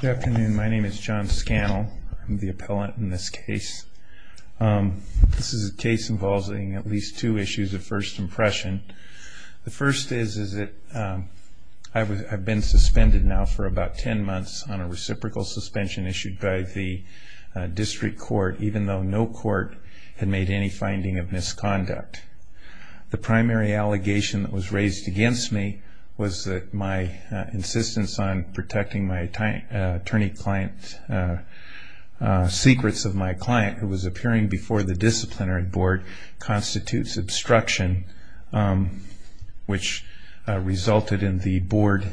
Good afternoon. My name is John Scannell. I'm the appellant in this case. This is a case involving at least two issues of first impression. The first is that I've been suspended now for about 10 months on a reciprocal suspension issued by the district court, even though no court had made any finding of misconduct. The primary allegation that was raised against me was that my insistence on protecting my attorney client's secrets of my client, who was appearing before the disciplinary board, constitutes obstruction, which resulted in the board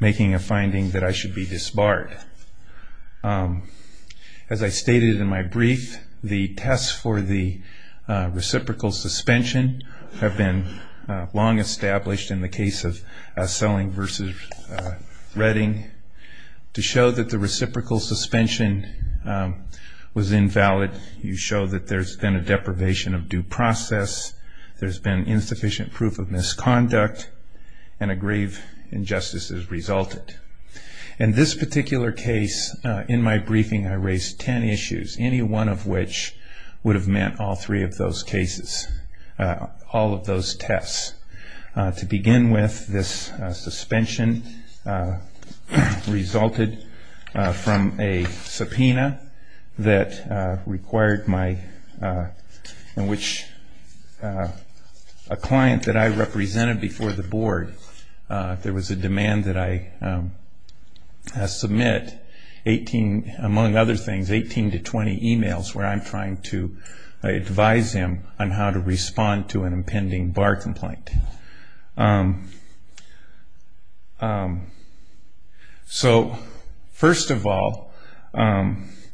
making a finding that I should be disbarred. As I stated in my brief, the tests for the reciprocal suspension have been long established in the case of Selling v. Redding. To show that the reciprocal suspension was invalid, you show that there's been a deprivation of due process, there's been insufficient proof of misconduct, and a grave injustice has resulted. In this particular case, in my briefing, I raised 10 issues, any one of which would have meant all three of those cases, all of those tests. To begin with, this suspension resulted from a subpoena in which a client that I represented before the board, there was a demand that I submit 18, among other things, 18 to 20 emails where I'm trying to advise him on how to respond to an impending bar complaint. First of all,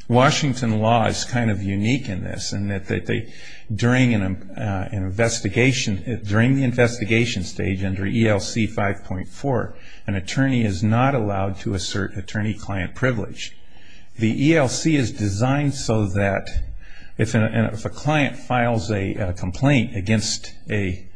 Washington law is kind of unique in this, in that during the investigation stage under ELC 5.4, an attorney is not allowed to assert attorney client privilege. The ELC is designed so that if a client files a complaint against an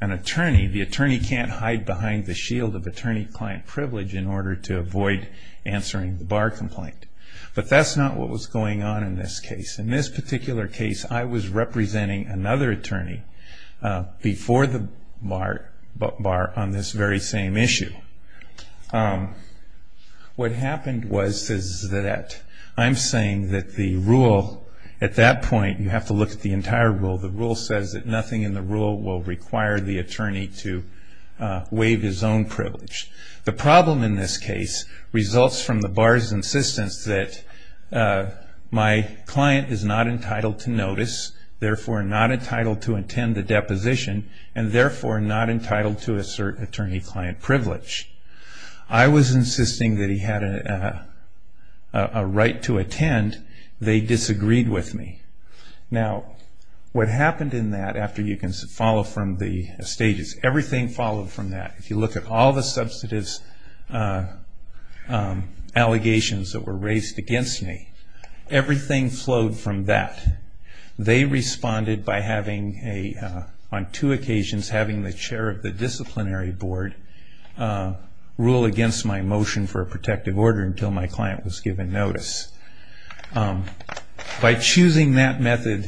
attorney, the attorney can't hide behind the shield of attorney client privilege in order to avoid answering the bar complaint. But that's not what was going on in this case. In this particular case, I was representing another attorney before the bar on this very same issue. What happened was that I'm saying that the rule at that point, you have to look at the entire rule, the rule says that nothing in the rule will require the attorney to waive his own privilege. The problem in this case results from the bar's insistence that my client is not entitled to notice, therefore not entitled to attend the deposition, and therefore not entitled to assert attorney client privilege. I was insisting that he had a right to attend. They disagreed with me. Now, what happened in that, after you can follow from the stages, everything followed from that. If you look at all the substantive allegations that were raised against me, everything flowed from that. They responded by having, on two occasions, having the chair of the disciplinary board rule against my motion for a protective order until my client was given notice. By choosing that method,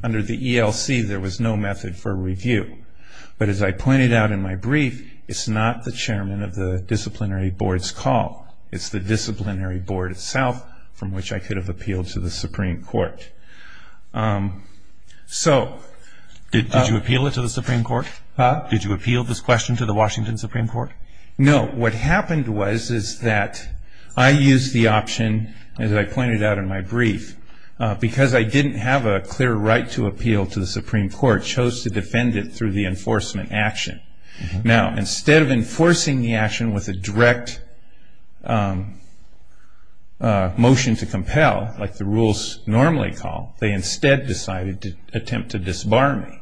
under the ELC, there was no method for review. But as I pointed out in my brief, it's not the chairman of the disciplinary board's call. It's the disciplinary board itself from which I could have appealed to the Supreme Court. So... Did you appeal it to the Supreme Court? Did you appeal this question to the Washington Supreme Court? No. What happened was is that I used the option, as I pointed out in my brief, because I didn't have a clear right to appeal to the Supreme Court, chose to defend it through the enforcement action. Now, instead of enforcing the action with a direct motion to compel, like the rules normally call, they instead decided to attempt to disbar me.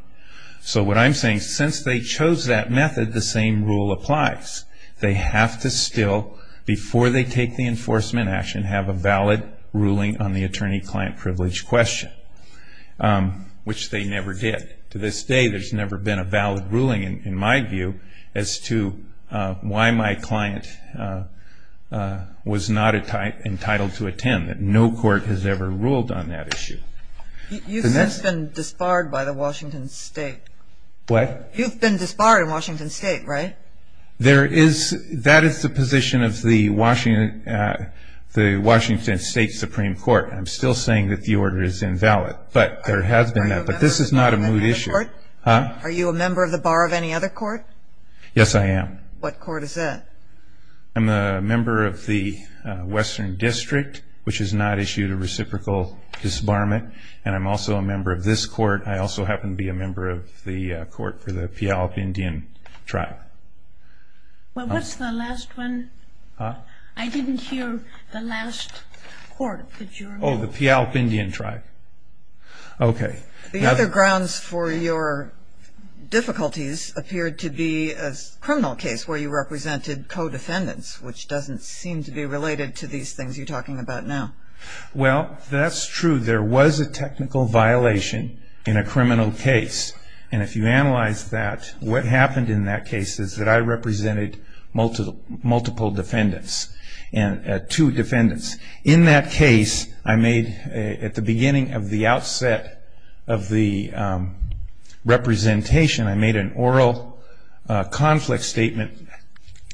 So what I'm saying, since they chose that method, the same rule applies. They have to still, before they take the enforcement action, have a valid ruling on the attorney-client privilege question, which they never did. To this day, there's never been a valid ruling, in my view, as to why my client was not entitled to attend. No court has ever ruled on that issue. You've since been disbarred by the Washington State. What? You've been disbarred in Washington State, right? That is the position of the Washington State Supreme Court. I'm still saying that the order is invalid, but there has been that. But this is not a moot issue. Are you a member of the bar of any other court? Yes, I am. What court is that? I'm a member of the Western District, which has not issued a reciprocal disbarment, and I'm also a member of this court. I also happen to be a member of the court for the Puyallup Indian tribe. Well, what's the last one? I didn't hear the last court that you're a member of. Oh, the Puyallup Indian tribe. Okay. The other grounds for your difficulties appeared to be a criminal case where you represented co-defendants, which doesn't seem to be related to these things you're talking about now. Well, that's true. There was a technical violation in a criminal case, and if you analyze that, what happened in that case is that I represented multiple defendants, two defendants. In that case, at the beginning of the outset of the representation, I made an oral conflict statement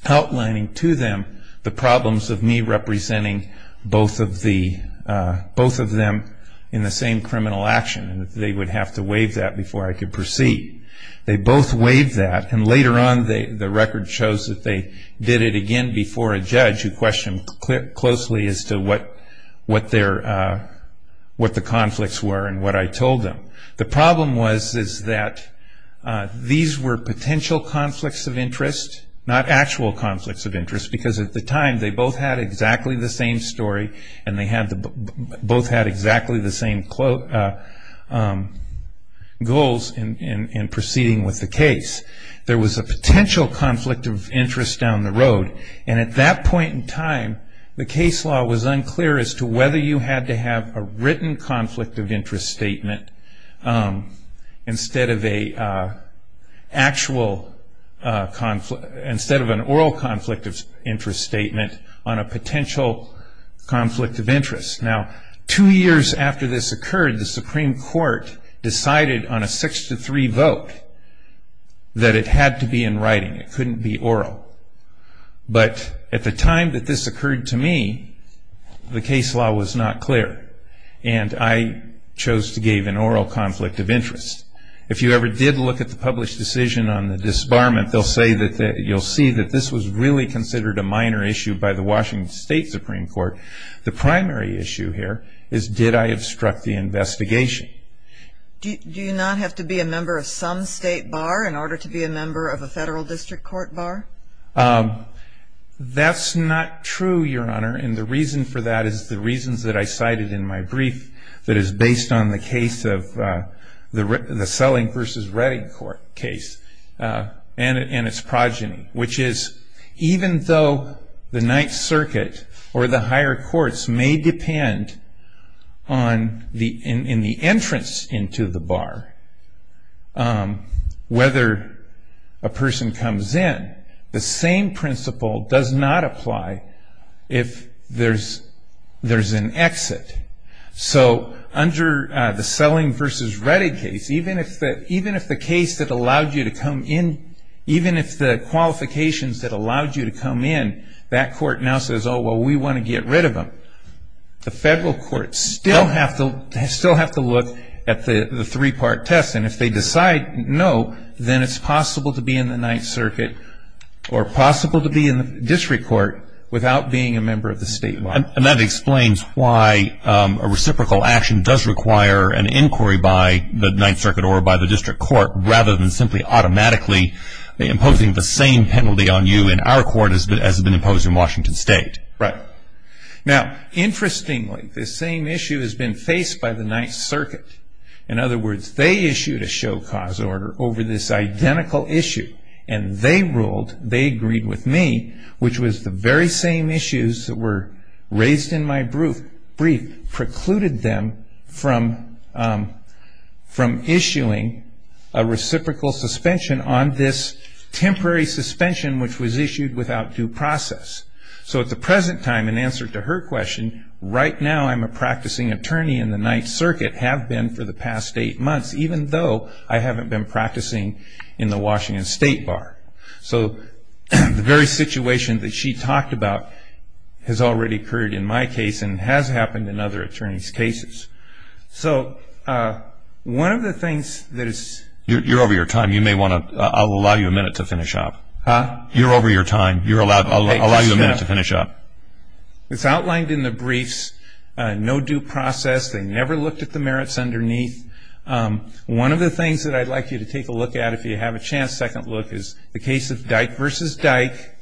outlining to them the problems of me representing both of them in the same criminal action, and they would have to waive that before I could proceed. They both waived that, and later on the record shows that they did it again before a judge who questioned closely as to what the conflicts were and what I told them. The problem was that these were potential conflicts of interest, not actual conflicts of interest, because at the time they both had exactly the same story, and they both had exactly the same goals in proceeding with the case. There was a potential conflict of interest down the road, and at that point in time the case law was unclear as to whether you had to have a written conflict of interest statement instead of an oral conflict of interest statement on a potential conflict of interest. Now, two years after this occurred, the Supreme Court decided on a 6-3 vote that it had to be in writing. It couldn't be oral. But at the time that this occurred to me, the case law was not clear, and I chose to give an oral conflict of interest. If you ever did look at the published decision on the disbarment, you'll see that this was really considered a minor issue by the Washington State Supreme Court. The primary issue here is did I obstruct the investigation. Do you not have to be a member of some state bar in order to be a member of a federal district court bar? That's not true, Your Honor, and the reason for that is the reasons that I cited in my brief that is based on the case of the Selling v. Redding case and its progeny, which is even though the Ninth Circuit or the higher courts may depend in the entrance into the bar whether a person comes in, the same principle does not apply if there's an exit. So under the Selling v. Redding case, even if the qualifications that allowed you to come in, that court now says, oh, well, we want to get rid of them. The federal courts still have to look at the three-part test, and if they decide no, then it's possible to be in the Ninth Circuit or possible to be in the district court without being a member of the state bar. And that explains why a reciprocal action does require an inquiry by the Ninth Circuit or by the district court rather than simply automatically imposing the same penalty on you in our court as has been imposed in Washington State. Right. Now, interestingly, this same issue has been faced by the Ninth Circuit. In other words, they issued a show-cause order over this identical issue, and they ruled, they agreed with me, which was the very same issues that were raised in my brief precluded them from issuing a reciprocal suspension on this temporary suspension which was issued without due process. So at the present time, in answer to her question, right now I'm a practicing attorney in the Ninth Circuit, have been for the past eight months, even though I haven't been practicing in the Washington State bar. So the very situation that she talked about has already occurred in my case and has happened in other attorneys' cases. So one of the things that is – You're over your time. You may want to – I'll allow you a minute to finish up. Huh? You're over your time. You're allowed – I'll allow you a minute to finish up. It's outlined in the briefs, no due process. They never looked at the merits underneath. One of the things that I'd like you to take a look at, if you have a chance, second look, is the case of Dyke v. Dyke.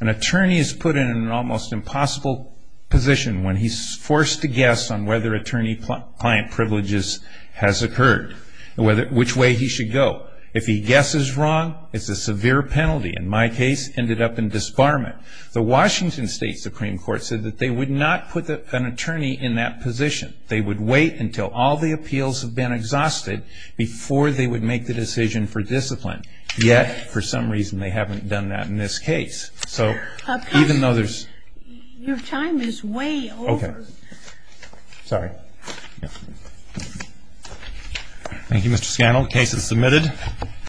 An attorney is put in an almost impossible position when he's forced to guess on whether attorney-client privileges has occurred, which way he should go. If he guesses wrong, it's a severe penalty. In my case, ended up in disbarment. The Washington State Supreme Court said that they would not put an attorney in that position. They would wait until all the appeals have been exhausted before they would make the decision for discipline. Yet, for some reason, they haven't done that in this case. So even though there's – Your time is way over. Okay. Sorry. Thank you, Mr. Scannell. Case is submitted.